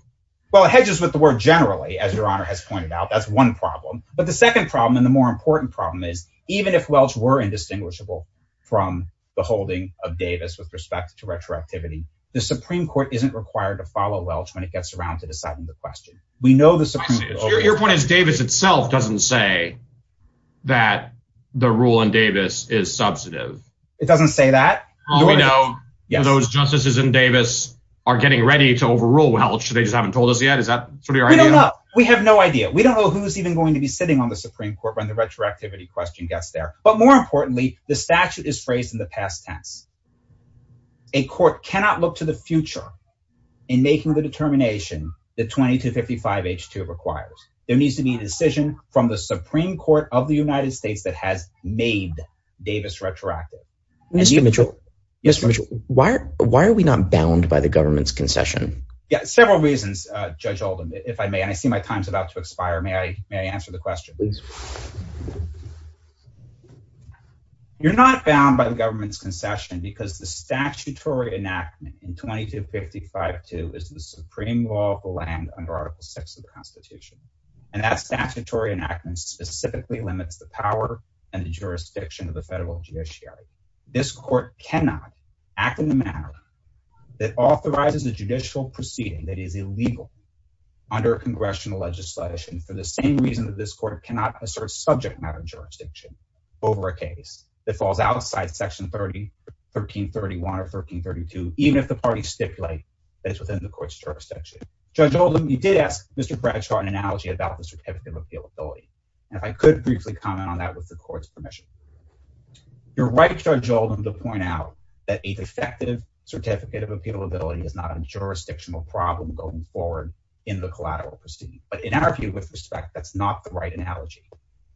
Well, it hedges with the word generally, as Your Honor has pointed out. That's one problem. But the second problem and the more important problem is even if Welch were indistinguishable from the holding of Davis with respect to retroactivity, the Supreme Court isn't required to follow Welch when it gets around to deciding the question. We know the Supreme Court... Your point is Davis itself doesn't say that the rule in Davis is substantive. It doesn't say that? All we know those justices in Davis are getting ready to overrule Welch. They just haven't told us yet. Is that sort of your idea? We don't know. We have no idea. We don't know who's even going to be sitting on the Supreme Court when the retroactivity question gets there. But more importantly, the statute is phrased in the past tense. A court cannot look to the future in making the Supreme Court of the United States that has made Davis retroactive. Mr. Mitchell, why are we not bound by the government's concession? Several reasons, Judge Oldham, if I may. I see my time's about to expire. May I answer the question? You're not bound by the government's concession because the statutory enactment in 2255-2 is the specifically limits the power and the jurisdiction of the federal judiciary. This court cannot act in the manner that authorizes a judicial proceeding that is illegal under congressional legislation for the same reason that this court cannot assert subject matter jurisdiction over a case that falls outside Section 1331 or 1332, even if the parties stipulate that it's within the court's jurisdiction. Judge Oldham, you did ask Mr. Mitchell about a defective certificate of appealability. If I could briefly comment on that with the court's permission. You're right, Judge Oldham, to point out that a defective certificate of appealability is not a jurisdictional problem going forward in the collateral proceeding. But in our view, with respect, that's not the right analogy.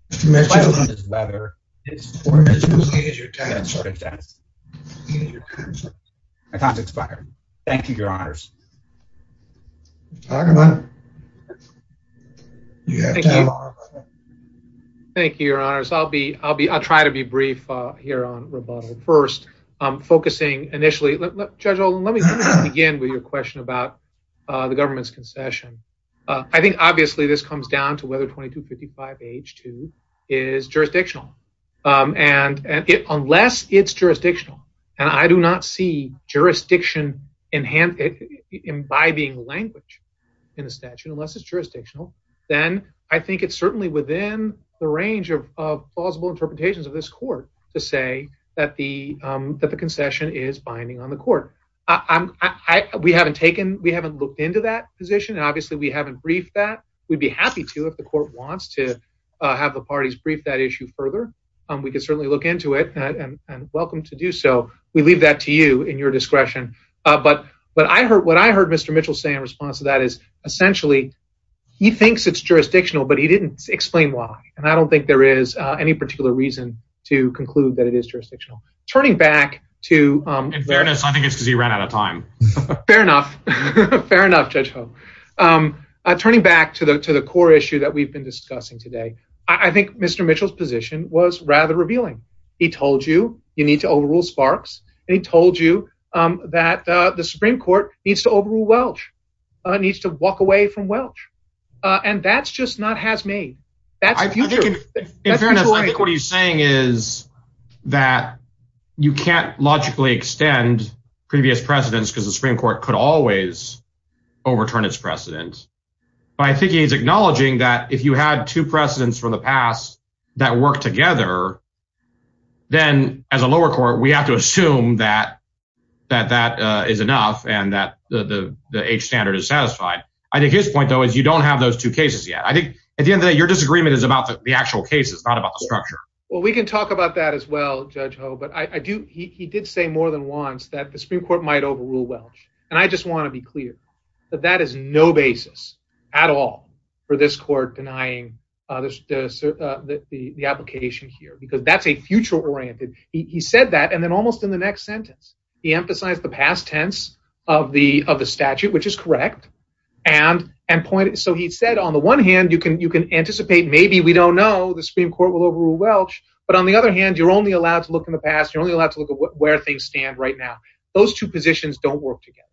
Mr. Mitchell, my time's expired. Thank you, Your Honors. Thank you, Your Honors. I'll try to be brief here on rebuttal. First, focusing initially, Judge Oldham, let me begin with your question about the government's concession. I think, obviously, this comes down to whether 2255H2 is jurisdictional. And unless it's jurisdictional, and I do not see jurisdiction imbibing language in the statute, unless it's jurisdictional, then I think it's certainly within the range of plausible interpretations of this court to say that the concession is binding on the court. We haven't looked into that position, and obviously, we haven't briefed that. We'd be happy to if the court wants to have the parties brief that issue further. We can certainly look into it, and welcome to do so. We leave that to you in your discretion. But what I heard Mr. Mitchell say in response to that is, essentially, he thinks it's jurisdictional, but he didn't explain why. And I don't think there is any particular reason to conclude that it is jurisdictional. Turning back to— In fairness, I think it's because he ran out of time. Fair enough. Fair enough, Judge Ho. Turning back to the core issue that we've been discussing today, I think Mr. Mitchell's position was rather revealing. He told you you need to overrule Sparks, and he told you that the Supreme Court needs to overrule Welch, needs to walk away from Welch. And that's just not has-made. That's the future. In fairness, I think what he's saying is that you can't logically extend previous precedents because the Supreme Court could always overturn its precedent. But I think he's acknowledging that if you had two precedents from the past that work together, then as a lower court, we have to assume that that is enough and that the H standard is satisfied. I think his point, though, is you don't have those two cases yet. I think, at the end of the day, your disagreement is about the actual case. It's not about the case. It's about the case. I think that's what he said. I don't know. I don't know. He did say more than once that the Supreme Court might overrule Welch. And I just want to be clear that that is no basis at all for this court denying the application here, because that's a future-oriented. He said that, and then almost in the next sentence, he emphasized the past tense of the statute, which is correct. So he said, on the one hand, you can anticipate, maybe, we don't know, the Supreme Court will overrule Welch. But on the other hand, you're only allowed to look in the past. You're only allowed to look at where things stand right now. Those two positions don't work together.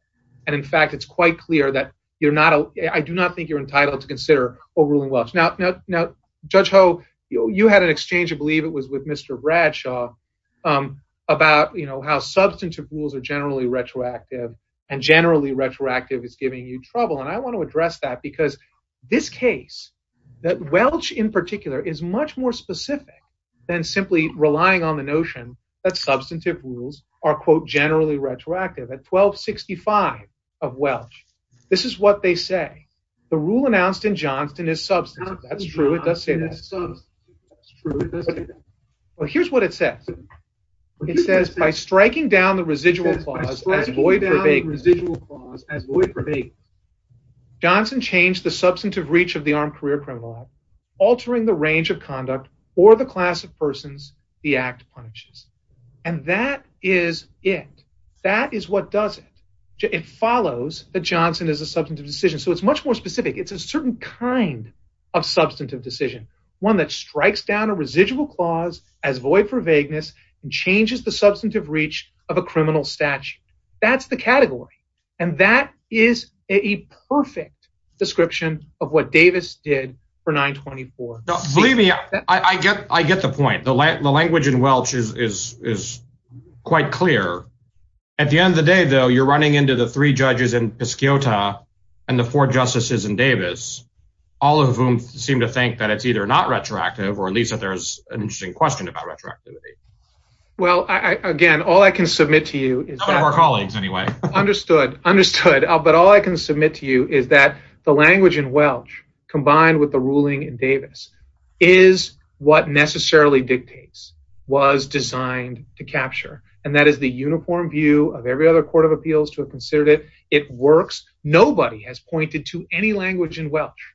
And in fact, it's quite clear that I do not think you're entitled to consider overruling Welch. Now, Judge Ho, you had an exchange, I believe it was with Mr. Bradshaw, about how substantive rules are generally retroactive and generally retroactive is giving you trouble. And I want to address that, because this case, that Welch in particular is much more specific than simply relying on the notion that substantive rules are, quote, generally retroactive. At 1265 of Welch, this is what they say. The rule announced in Johnston is substantive. That's true. It does say that. Well, here's what it says. It says, by striking down the residual clause as void for vagueness, Johnston changed the substantive reach of the armed career criminal act, altering the range of conduct for the class of persons the act punishes. And that is it. That is what does it. It follows that Johnston is a substantive decision. So it's much more specific. It's a certain kind of substantive decision, one that of a criminal statute. That's the category. And that is a perfect description of what Davis did for 924. Believe me, I get the point. The language in Welch is quite clear. At the end of the day, though, you're running into the three judges in Piscota and the four justices in Davis, all of whom seem to think that it's either not retroactive or at least that there's an interesting question about retroactivity. Well, again, all I can submit to you is our colleagues. Anyway, understood, understood. But all I can submit to you is that the language in Welch, combined with the ruling in Davis, is what necessarily dictates was designed to capture. And that is the uniform view of every other court of appeals to have considered it. It works. Nobody has pointed to any language in Welch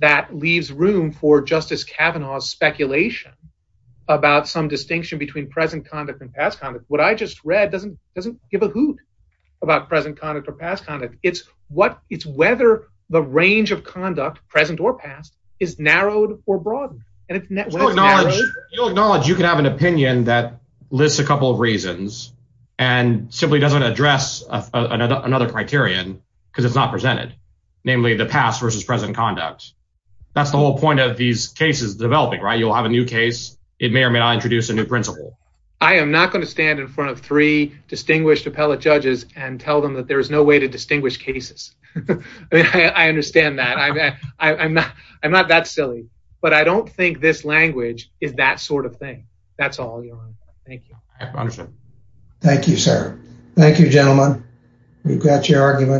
that leaves room for Justice Kavanaugh's speculation about some distinction between present conduct and past conduct. What I just read doesn't give a hoot about present conduct or past conduct. It's whether the range of conduct, present or past, is narrowed or broadened. You'll acknowledge you can have an opinion that lists a couple of reasons and simply doesn't address another criterion because it's not presented, namely the past versus present conduct. That's the whole point of these cases developing, right? You'll have a new case. It may or may not introduce a new principle. I am not going to stand in front of three distinguished appellate judges and tell them that there is no way to distinguish cases. I mean, I understand that. I'm not that silly. But I don't think this language is that sort of thing. That's all. Thank you. Understood. Thank you, sir. Thank you, gentlemen. We've got your argument.